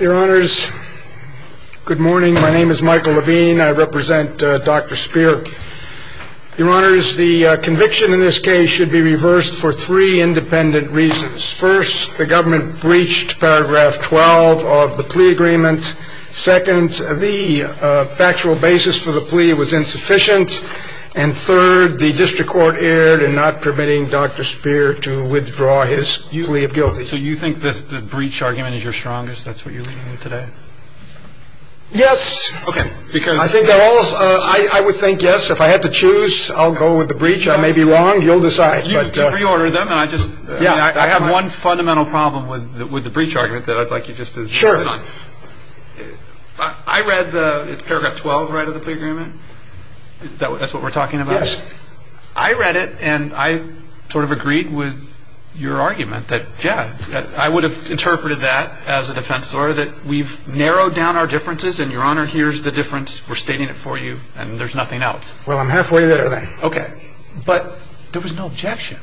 Your honors, good morning. My name is Michael Levine. I represent Dr. Spear. Your honors, the conviction in this case should be reversed for three independent reasons. First, the government breached paragraph 12 of the plea agreement. Second, the factual basis for the plea was insufficient. And third, the district court erred in not permitting Dr. Spear to withdraw his plea of guilt. So you think the breach argument is your strongest? That's what you're leading with today? Yes. I would think yes. If I had to choose, I'll go with the breach. I may be wrong. You'll decide. You reordered them. I have one fundamental problem with the breach argument that I'd like you just to comment on. Sure. I read the paragraph 12 right of the plea agreement. That's what we're talking about? Yes. I read it, and I sort of agreed with your argument that, yeah, I would have interpreted that as a defense lawyer, that we've narrowed down our differences, and, Your Honor, here's the difference. We're stating it for you, and there's nothing else. Well, I'm halfway there, then. Okay. But there was no objection.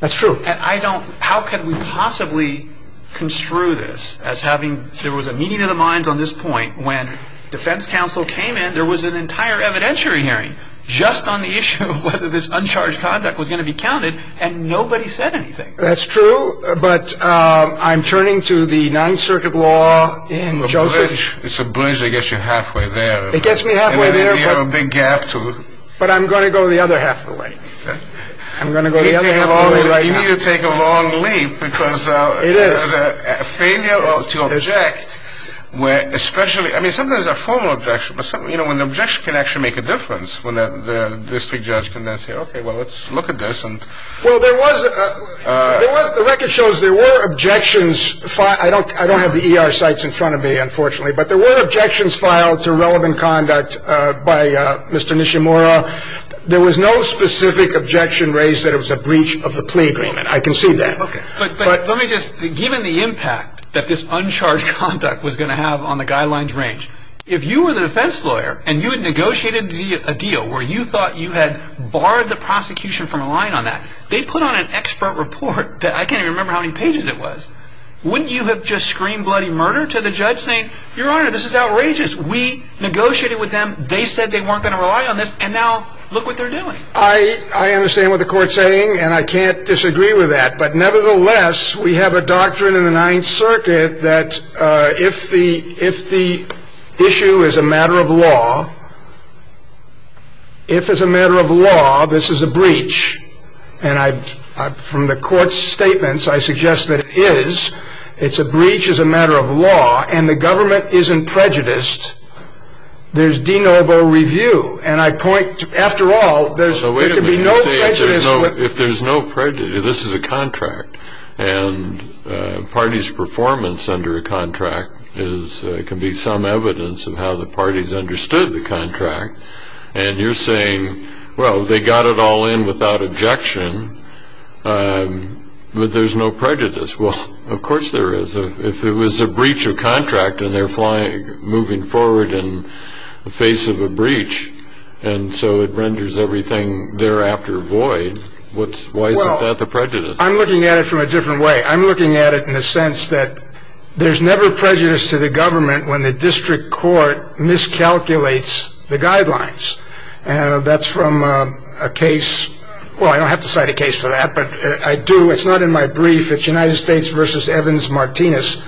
That's true. And I don't – how could we possibly construe this as having – there was a meeting of the minds on this point. When defense counsel came in, there was an entire evidentiary hearing just on the issue of whether this uncharged conduct was going to be counted, and nobody said anything. That's true, but I'm turning to the Ninth Circuit law in Joseph – It's a breach that gets you halfway there. It gets me halfway there, but – And then you have a big gap to – But I'm going to go the other half of the way. I'm going to go the other half of the way right now. You need to take a long leap because – It is. It is a failure to object where especially – I mean, sometimes there's a formal objection, but, you know, when the objection can actually make a difference, when the district judge can then say, okay, well, let's look at this and – Well, there was – there was – the record shows there were objections – I don't have the ER sites in front of me, unfortunately, but there were objections filed to relevant conduct by Mr. Nishimura. There was no specific objection raised that it was a breach of the plea agreement. I concede that. Okay. But let me just – given the impact that this uncharged conduct was going to have on the guidelines range, if you were the defense lawyer and you had negotiated a deal where you thought you had barred the prosecution from relying on that, they put on an expert report that – I can't even remember how many pages it was. Wouldn't you have just screamed bloody murder to the judge saying, Your Honor, this is outrageous. We negotiated with them. They said they weren't going to rely on this, and now look what they're doing. I – I understand what the court's saying, and I can't disagree with that, but nevertheless, we have a doctrine in the Ninth Circuit that if the – if the issue is a matter of law, if it's a matter of law, this is a breach, and I – from the court's statements, I suggest that it is. It's a breach as a matter of law, and the government isn't prejudiced. There's de novo review, and I point – after all, there's – there could be no prejudice – Wait a minute. You say if there's no prejudice – this is a contract, and a party's performance under a contract is – can be some evidence of how the parties understood the contract, and you're saying, well, they got it all in without objection, but there's no prejudice. Well, of course there is. If it was a breach of contract, and they're flying – moving forward in the face of a breach, and so it renders everything thereafter void, what's – why is that the prejudice? Well, I'm looking at it from a different way. I'm looking at it in the sense that there's never prejudice to the government when the district court miscalculates the guidelines. That's from a case – well, I don't have to cite a case for that, but I do. It's not in my brief. It's United States v. Evans-Martinez,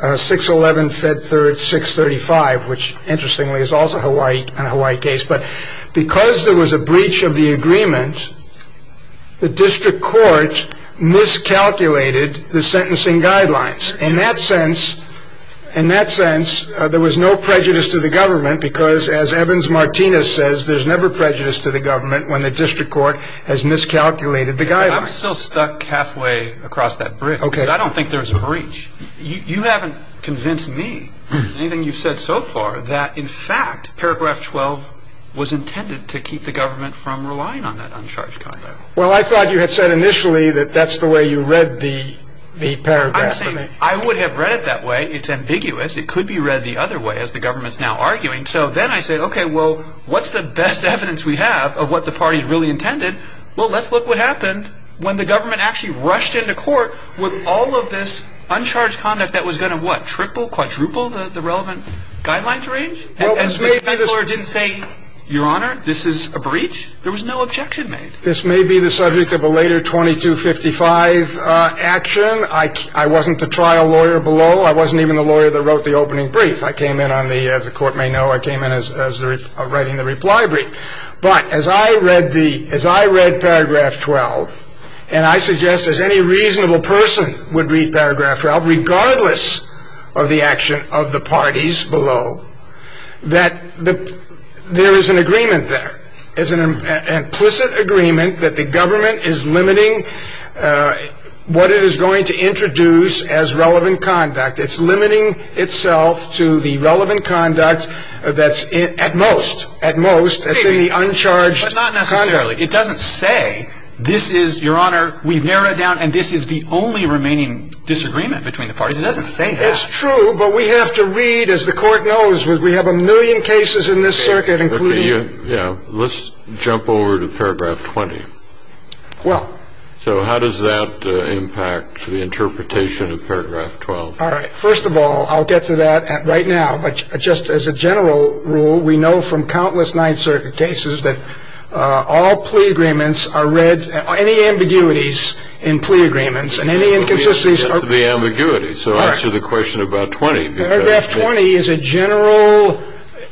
611 Fed Third 635, which, interestingly, is also a Hawaii case. But because there was a breach of the agreement, the district court miscalculated the sentencing guidelines. In that sense – in that sense, there was no prejudice to the government because, as Evans-Martinez says, there's never prejudice to the government when the district court has miscalculated the guidelines. I'm still stuck halfway across that bridge because I don't think there was a breach. You haven't convinced me in anything you've said so far that, in fact, paragraph 12 was intended to keep the government from relying on that uncharged conduct. Well, I thought you had said initially that that's the way you read the paragraph. I'm saying I would have read it that way. It's ambiguous. It could be read the other way, as the government's now arguing. So then I say, OK, well, what's the best evidence we have of what the party's really intended? Well, let's look what happened when the government actually rushed into court with all of this uncharged conduct that was going to, what, triple, quadruple the relevant guidelines range? And the defense lawyer didn't say, Your Honor, this is a breach? There was no objection made. This may be the subject of a later 2255 action. I wasn't the trial lawyer below. I wasn't even the lawyer that wrote the opening brief. I came in on the, as the court may know, I came in as writing the reply brief. But as I read the, as I read paragraph 12, and I suggest, as any reasonable person would read paragraph 12, regardless of the action of the parties below, that there is an agreement there, is an implicit agreement that the government is limiting what it is going to introduce as relevant conduct. It's limiting itself to the relevant conduct that's in, at most, at most, that's in the uncharged conduct. But not necessarily. It doesn't say, this is, Your Honor, we've narrowed it down and this is the only remaining disagreement between the parties. It doesn't say that. It's true, but we have to read, as the court knows, we have a million cases in this circuit, including. Yeah. Let's jump over to paragraph 20. Well. So how does that impact the interpretation of paragraph 12? All right. First of all, I'll get to that right now. But just as a general rule, we know from countless Ninth Circuit cases that all plea agreements are read, any ambiguities in plea agreements and any inconsistencies are. The ambiguity. So answer the question about 20. Paragraph 20 is a general,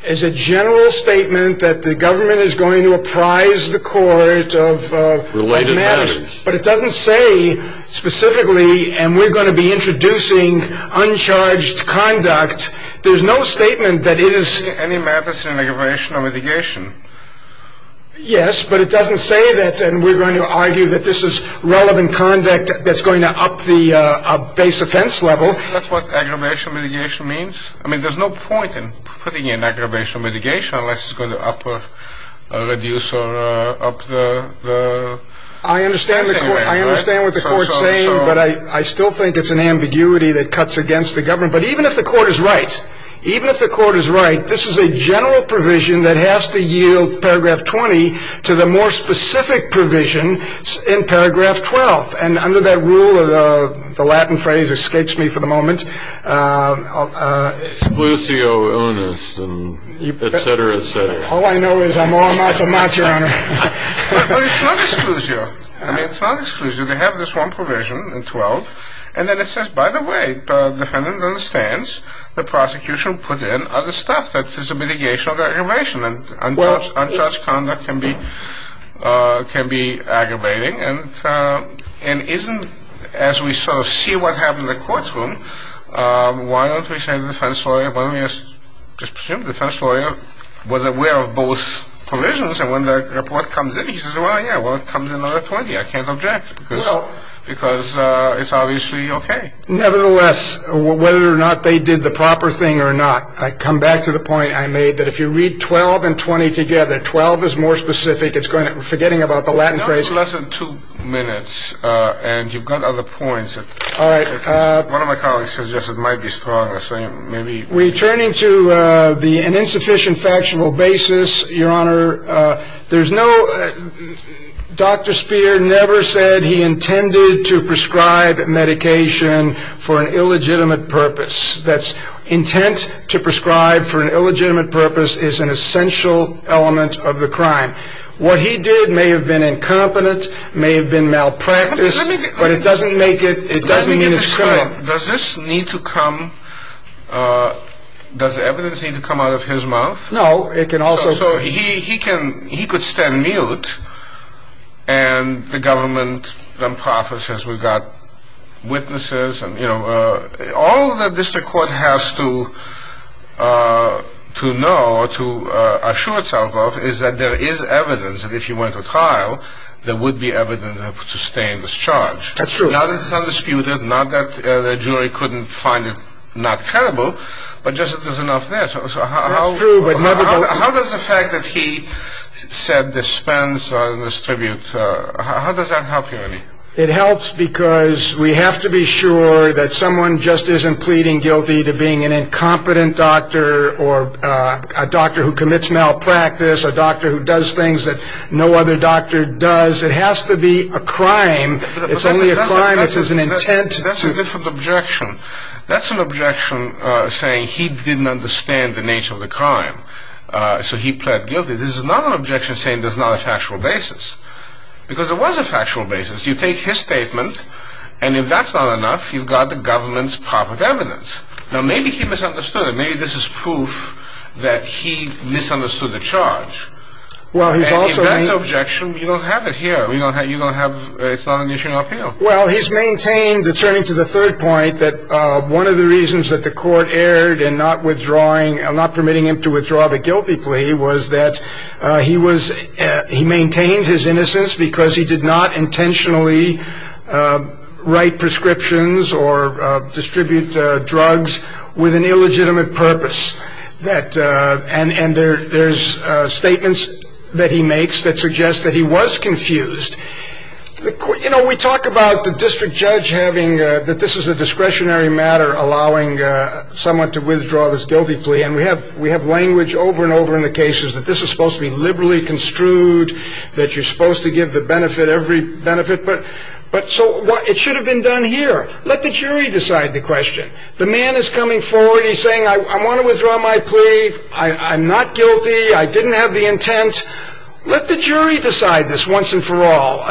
is a general statement that the government is going to apprise the court of. Related matters. But it doesn't say specifically, and we're going to be introducing uncharged conduct. There's no statement that it is. Any matters in aggravation or mitigation. Yes, but it doesn't say that. And we're going to argue that this is relevant conduct that's going to up the base offense level. That's what aggravation mitigation means. I mean, there's no point in putting in aggravation mitigation unless it's going to up or reduce or up the. I understand. I understand what the court's saying, but I still think it's an ambiguity that cuts against the government. But even if the court is right, even if the court is right, this is a general provision that has to yield paragraph 20 to the more specific provision in paragraph 12. And under that rule, the Latin phrase escapes me for the moment. Exclusio illness, et cetera, et cetera. All I know is I'm all or nothing, Your Honor. But it's not exclusio. I mean, it's not exclusio. They have this one provision in 12. And then it says, by the way, the defendant understands the prosecution put in other stuff. That is a mitigation of aggravation. And uncharged conduct can be aggravating. And isn't, as we sort of see what happened in the courtroom, why don't we say the defense lawyer, why don't we just presume the defense lawyer was aware of both provisions. And when the report comes in, he says, well, yeah, well, it comes in under 20. I can't object because it's obviously okay. Nevertheless, whether or not they did the proper thing or not, I come back to the point I made that if you read 12 and 20 together, 12 is more specific. We're forgetting about the Latin phrase. Less than two minutes, and you've got other points. All right. One of my colleagues suggested it might be stronger, so maybe. Returning to an insufficient factual basis, Your Honor, there's no Dr. Speer never said he intended to prescribe medication for an illegitimate purpose. That's intent to prescribe for an illegitimate purpose is an essential element of the crime. What he did may have been incompetent, may have been malpractice. But it doesn't make it, it doesn't mean it's criminal. Let me get this clear. Does this need to come, does evidence need to come out of his mouth? No, it can also. So he can, he could stand mute, and the government then prophesies we've got witnesses, and, you know, all the district court has to know or to assure itself of is that there is evidence that if you went to trial, there would be evidence to sustain this charge. That's true. Not that it's undisputed, not that the jury couldn't find it not credible, but just that there's enough there. That's true. How does the fact that he said dispense on this tribute, how does that help you, Ernie? It helps because we have to be sure that someone just isn't pleading guilty to being an incompetent doctor or a doctor who commits malpractice, a doctor who does things that no other doctor does. It has to be a crime. It's only a crime if it's an intent. That's a different objection. That's an objection saying he didn't understand the nature of the crime, so he pled guilty. This is not an objection saying there's not a factual basis, because there was a factual basis. You take his statement, and if that's not enough, you've got the government's public evidence. Now, maybe he misunderstood it. Maybe this is proof that he misunderstood the charge. If that's an objection, you don't have it here. It's not an issue of appeal. Well, he's maintained, turning to the third point, that one of the reasons that the court erred in not permitting him to withdraw the guilty plea was that he maintained his innocence because he did not intentionally write prescriptions or distribute drugs with an illegitimate purpose. And there's statements that he makes that suggest that he was confused. You know, we talk about the district judge having that this is a discretionary matter allowing someone to withdraw this guilty plea, and we have language over and over in the cases that this is supposed to be liberally construed, that you're supposed to give the benefit every benefit. But so it should have been done here. Let the jury decide the question. The man is coming forward. He's saying, I want to withdraw my plea. I'm not guilty. I didn't have the intent. Let the jury decide this once and for all.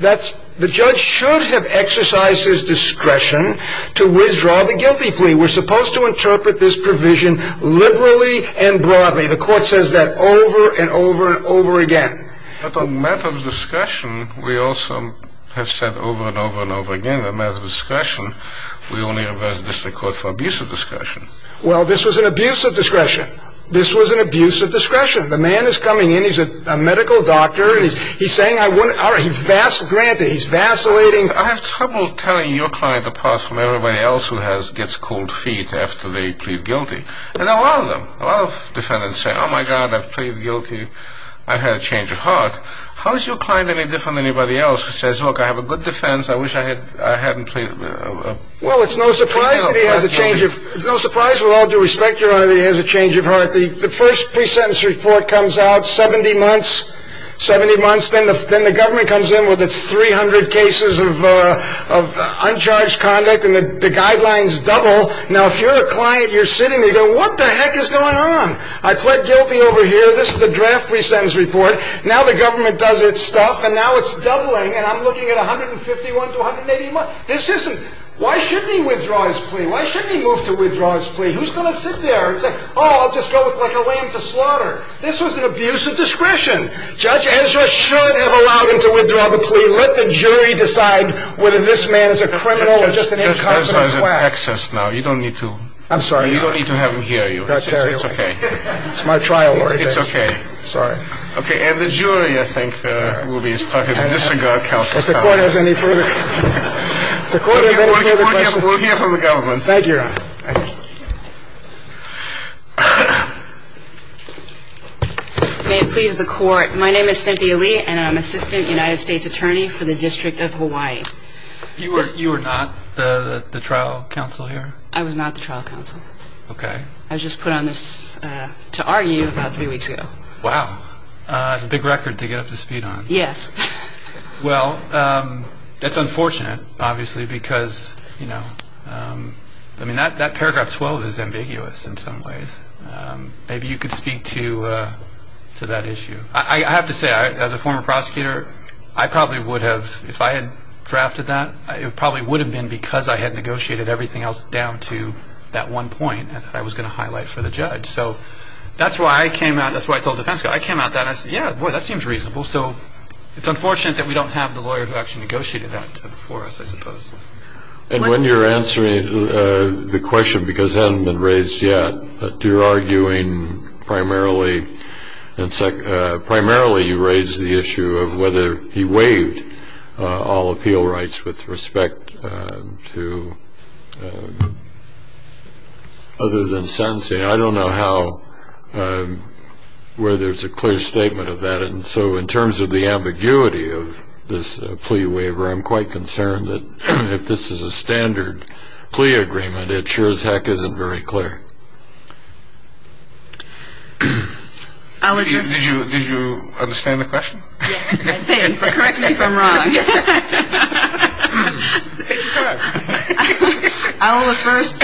The judge should have exercised his discretion to withdraw the guilty plea. We're supposed to interpret this provision liberally and broadly. The court says that over and over and over again. But on matter of discretion, we also have said over and over and over again, on matter of discretion, we only request the court for abuse of discretion. Well, this was an abuse of discretion. This was an abuse of discretion. The man is coming in. He's a medical doctor, and he's saying, all right, he's vacillating. I have trouble telling your client apart from everybody else who gets cold feet after they plead guilty. And a lot of them, a lot of defendants say, oh, my God, I've pleaded guilty. I've had a change of heart. How is your client any different than anybody else who says, look, I have a good defense. I wish I hadn't pleaded. Well, it's no surprise that he has a change of heart. It's no surprise with all due respect, Your Honor, that he has a change of heart. The first pre-sentence report comes out 70 months, 70 months. Then the government comes in with its 300 cases of uncharged conduct, and the guidelines double. Now, if you're a client, you're sitting there going, what the heck is going on? I pled guilty over here. This is the draft pre-sentence report. Now the government does its stuff, and now it's doubling, and I'm looking at 151 to 180 months. This isn't why shouldn't he withdraw his plea? Why shouldn't he move to withdraw his plea? Who's going to sit there and say, oh, I'll just go with, like, a lame to slaughter? This was an abuse of discretion. Judge Ezra should have allowed him to withdraw the plea. Let the jury decide whether this man is a criminal or just an incompetent slack. You don't need to have him hear you. It's okay. It's my trial. It's okay. Sorry. Okay. And the jury, I think, will be starting to disregard counsel's comments. If the Court has any further questions. If the Court has any further questions. We'll hear from the government. Thank you, Your Honor. Thank you. May it please the Court. My name is Cynthia Lee, and I'm Assistant United States Attorney for the District of Hawaii. You were not the trial counsel here? I was not the trial counsel. Okay. I was just put on this to argue about three weeks ago. Wow. That's a big record to get up to speed on. Yes. Well, that's unfortunate, obviously, because, you know, I mean, that paragraph 12 is ambiguous in some ways. Maybe you could speak to that issue. I have to say, as a former prosecutor, I probably would have, if I had drafted that, it probably would have been because I had negotiated everything else down to that one point that I was going to highlight for the judge. So that's why I came out. That's why I told the defense counsel. I came out and I said, yeah, boy, that seems reasonable. So it's unfortunate that we don't have the lawyer who actually negotiated that for us, I suppose. And when you're answering the question, because it hasn't been raised yet, but you're arguing primarily you raised the issue of whether he waived all appeal rights with respect to other than sentencing. I don't know where there's a clear statement of that. And so in terms of the ambiguity of this plea waiver, I'm quite concerned that if this is a standard plea agreement, it sure as heck isn't very clear. Did you understand the question? Correct me if I'm wrong. I'll first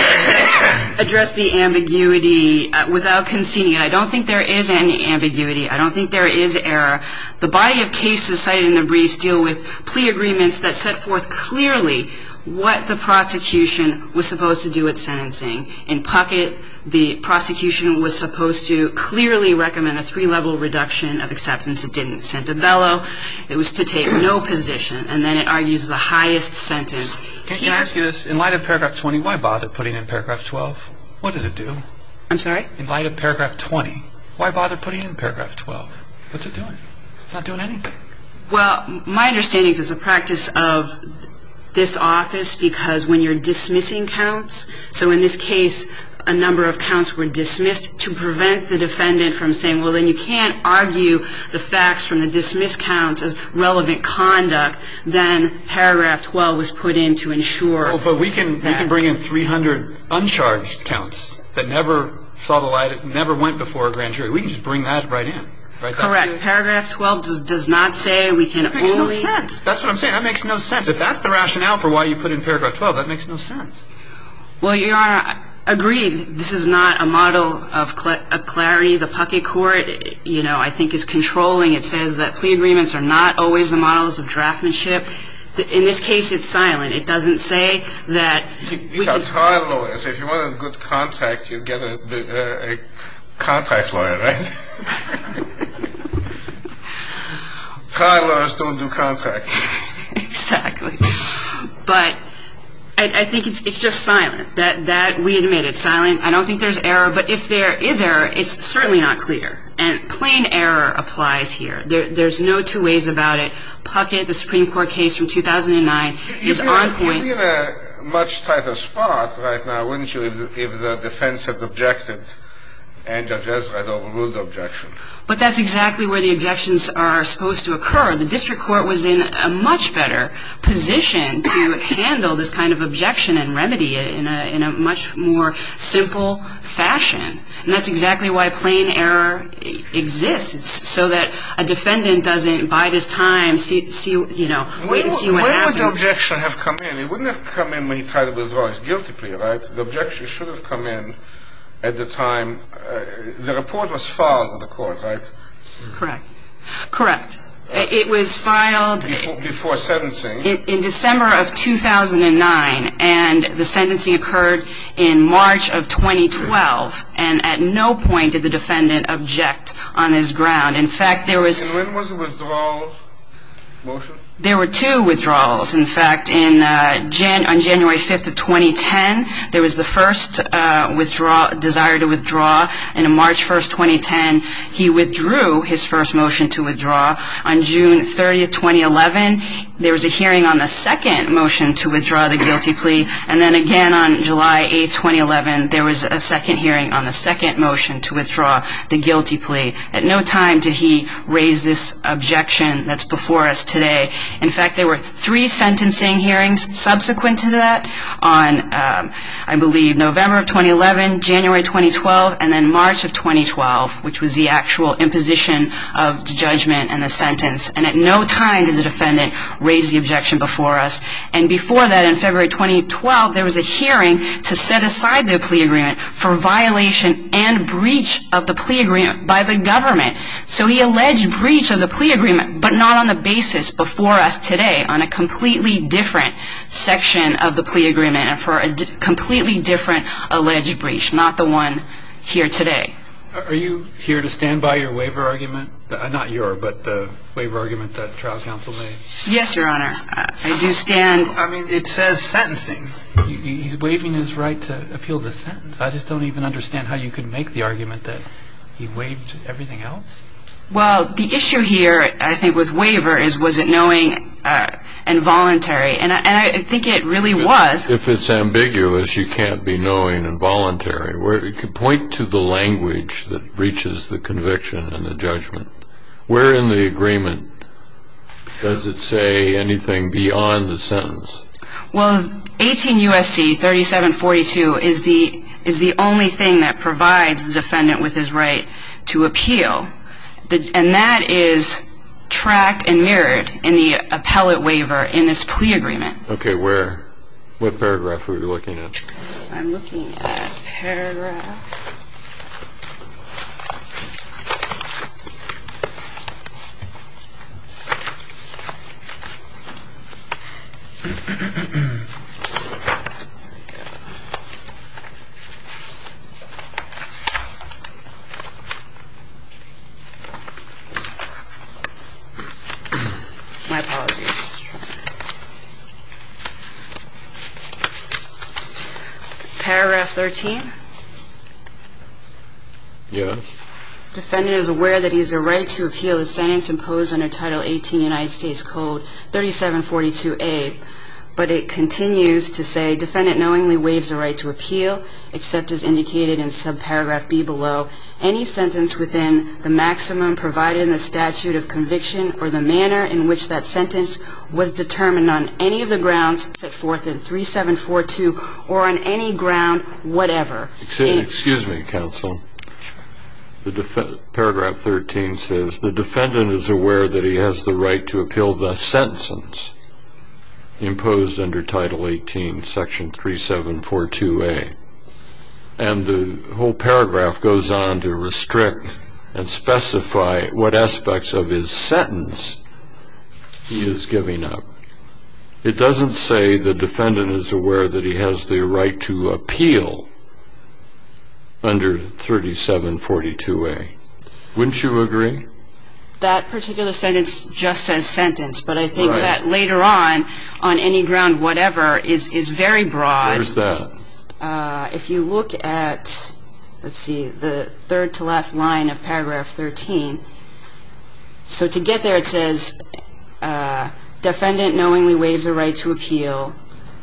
address the ambiguity without conceding it. I don't think there is any ambiguity. I don't think there is error. The body of cases cited in the briefs deal with plea agreements that set forth clearly what the prosecution was supposed to do with sentencing. In Puckett, the prosecution was supposed to clearly recommend a three-level reduction of acceptance. It didn't. Santabello, it was to take no position. And then it argues the highest sentence. Can I ask you this? In light of paragraph 20, why bother putting in paragraph 12? What does it do? I'm sorry? In light of paragraph 20, why bother putting in paragraph 12? What's it doing? It's not doing anything. Well, my understanding is it's a practice of this office because when you're dismissing counts, so in this case a number of counts were dismissed to prevent the defendant from saying, well, then you can't argue the facts from the dismissed counts as relevant conduct. Then paragraph 12 was put in to ensure that. But we can bring in 300 uncharged counts that never saw the light, never went before a grand jury. We can just bring that right in. Correct. Paragraph 12 does not say we can only. That makes no sense. That's what I'm saying. That makes no sense. If that's the rationale for why you put in paragraph 12, that makes no sense. Well, Your Honor, agreed. This is not a model of clarity. The Puckett court, you know, I think is controlling. It says that plea agreements are not always the models of draftmanship. In this case, it's silent. It doesn't say that we can. These are trial lawyers. If you want a good contract, you get a contract lawyer, right? Trial lawyers don't do contracts. Exactly. But I think it's just silent, that we admit it's silent. I don't think there's error. But if there is error, it's certainly not clear. And plain error applies here. There's no two ways about it. Puckett, the Supreme Court case from 2009, is on point. You'd be in a much tighter spot right now, wouldn't you, if the defense had objected and judges had ruled objection. But that's exactly where the objections are supposed to occur. The district court was in a much better position to handle this kind of objection and remedy it in a much more simple fashion. And that's exactly why plain error exists, so that a defendant doesn't, by this time, wait and see what happens. But the objection has come in. It wouldn't have come in when he tried to withdraw his guilty plea, right? The objection should have come in at the time the report was filed in the court, right? Correct. Correct. It was filed before sentencing in December of 2009, and the sentencing occurred in March of 2012. And at no point did the defendant object on his ground. In fact, there was... And when was the withdrawal motion? There were two withdrawals. In fact, on January 5th of 2010, there was the first desire to withdraw. And on March 1st, 2010, he withdrew his first motion to withdraw. On June 30th, 2011, there was a hearing on the second motion to withdraw the guilty plea. And then again on July 8th, 2011, there was a second hearing on the second motion to withdraw the guilty plea. At no time did he raise this objection that's before us today. In fact, there were three sentencing hearings subsequent to that on, I believe, November of 2011, January 2012, and then March of 2012, which was the actual imposition of judgment and the sentence. And at no time did the defendant raise the objection before us. And before that, in February 2012, there was a hearing to set aside the plea agreement for violation and breach of the plea agreement by the government. So he alleged breach of the plea agreement, but not on the basis before us today on a completely different section of the plea agreement and for a completely different alleged breach, not the one here today. Are you here to stand by your waiver argument? Not your, but the waiver argument that trial counsel made? Yes, Your Honor. I do stand. I mean, it says sentencing. He's waiving his right to appeal the sentence. I just don't even understand how you could make the argument that he waived everything else. Well, the issue here, I think, with waiver is was it knowing and voluntary, and I think it really was. If it's ambiguous, you can't be knowing and voluntary. Where in the agreement does it say anything beyond the sentence? Well, 18 U.S.C. 3742 is the only thing that provides the defendant with his right to appeal, and that is tracked and mirrored in the appellate waiver in this plea agreement. Okay, where? What paragraph are we looking at? I'm looking at paragraph. My apologies. Paragraph 13? Yes. Defendant is aware that he has a right to appeal the sentence imposed under Title 18 United States Code 3742A, but it continues to say defendant knowingly waives the right to appeal, except as indicated in subparagraph B below, any sentence within the maximum provided in the statute of conviction or the manner in which that sentence was determined on any of the grounds set forth in 3742 or on any ground whatever. Excuse me, counsel. Paragraph 13 says the defendant is aware that he has the right to appeal the sentence imposed under Title 18 Section 3742A, and the whole paragraph goes on to restrict and specify what aspects of his sentence he is giving up. It doesn't say the defendant is aware that he has the right to appeal under 3742A. Wouldn't you agree? That particular sentence just says sentence, but I think that later on, on any ground whatever, is very broad. Where's that? If you look at, let's see, the third to last line of paragraph 13, so to get there it says defendant knowingly waives the right to appeal,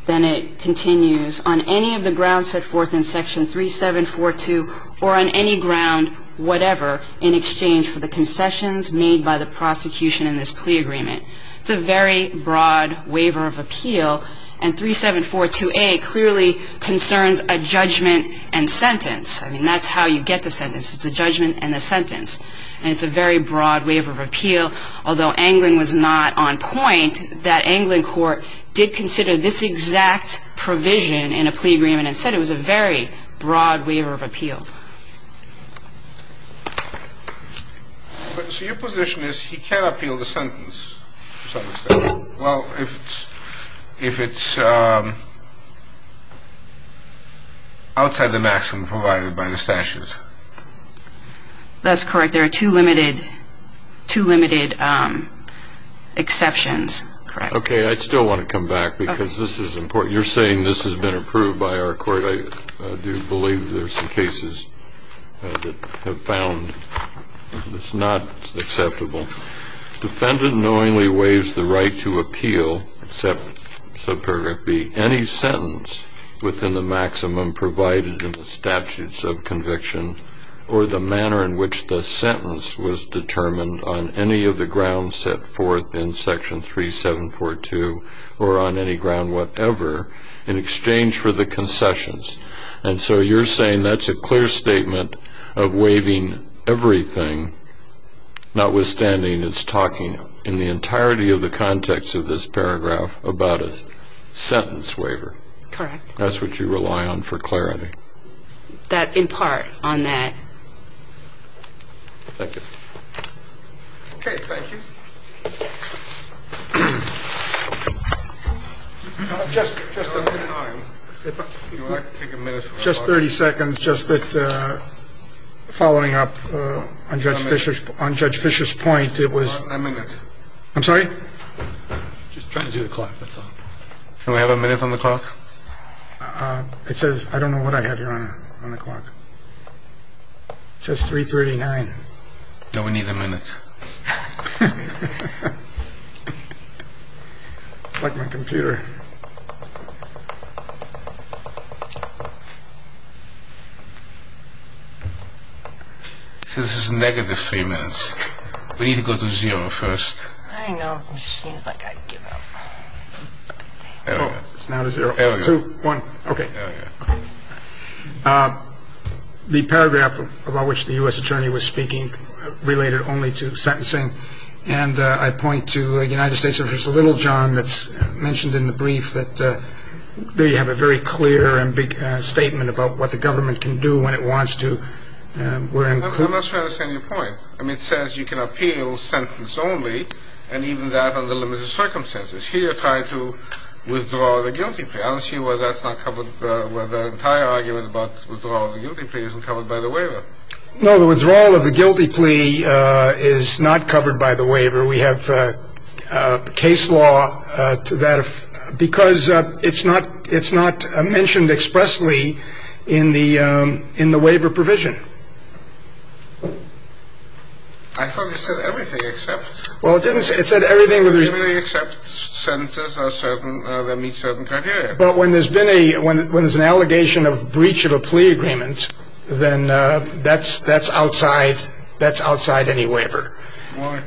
then it continues on any of the grounds set forth in Section 3742 or on any ground whatever in exchange for the concessions made by the prosecution in this plea agreement. It's a very broad waiver of appeal, and 3742A clearly concerns a judgment and sentence. I mean, that's how you get the sentence. It's a judgment and a sentence, and it's a very broad waiver of appeal, although Anglin was not on point that Anglin Court did consider this exact provision in a plea agreement and said it was a very broad waiver of appeal. So your position is he can appeal the sentence to some extent, Well, if it's outside the maximum provided by the statute. That's correct. There are two limited exceptions. Okay. I still want to come back because this is important. You're saying this has been approved by our court. I do believe there's some cases that have found it's not acceptable. Defendant knowingly waives the right to appeal, except sub-paragraph B, any sentence within the maximum provided in the statutes of conviction or the manner in which the sentence was determined on any of the grounds set forth in Section 3742 or on any ground whatever in exchange for the concessions. And so you're saying that's a clear statement of waiving everything, notwithstanding it's talking in the entirety of the context of this paragraph about a sentence waiver. Correct. That's what you rely on for clarity. That, in part, on that. Thank you. Okay, thank you. Just 30 seconds. Just following up on Judge Fischer's point, it was. A minute. I'm sorry? Just trying to do the clock. Can we have a minute on the clock? It says, I don't know what I have here on the clock. It says 339. No, we need a minute. It's like my computer. This is negative 3 minutes. We need to go to zero first. I know. It seems like I give up. Two, one. Okay. The paragraph about which the U.S. attorney was speaking related only to sentencing. And I point to the United States. There's a little, John, that's mentioned in the brief that there you have a very clear and big statement about what the government can do when it wants to. I'm not sure I understand your point. I mean, it says you can appeal sentence only and even that under limited circumstances. Here you're trying to withdraw the guilty plea. I don't see why that's not covered. The entire argument about withdrawal of the guilty plea isn't covered by the waiver. No, the withdrawal of the guilty plea is not covered by the waiver. We have case law to that. Because it's not mentioned expressly in the waiver provision. I thought it said everything except. Well, it didn't say. It said everything. Everything except sentences that meet certain criteria. But when there's an allegation of breach of a plea agreement, then that's outside any waiver. Why?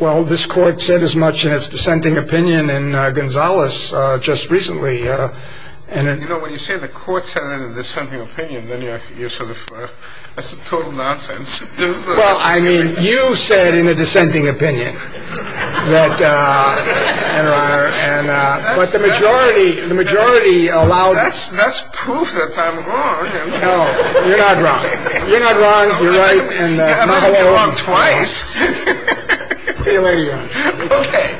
Well, this court said as much in its dissenting opinion in Gonzales just recently. You know, when you say the court said it in a dissenting opinion, then you're sort of, that's total nonsense. Well, I mean, you said in a dissenting opinion that, Your Honor. But the majority allowed. That's proof that I'm wrong. No, you're not wrong. You're not wrong. You're right. You have not been wrong twice. See you later, Your Honor. Okay.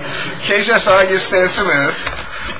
KJSR, you stand cemented.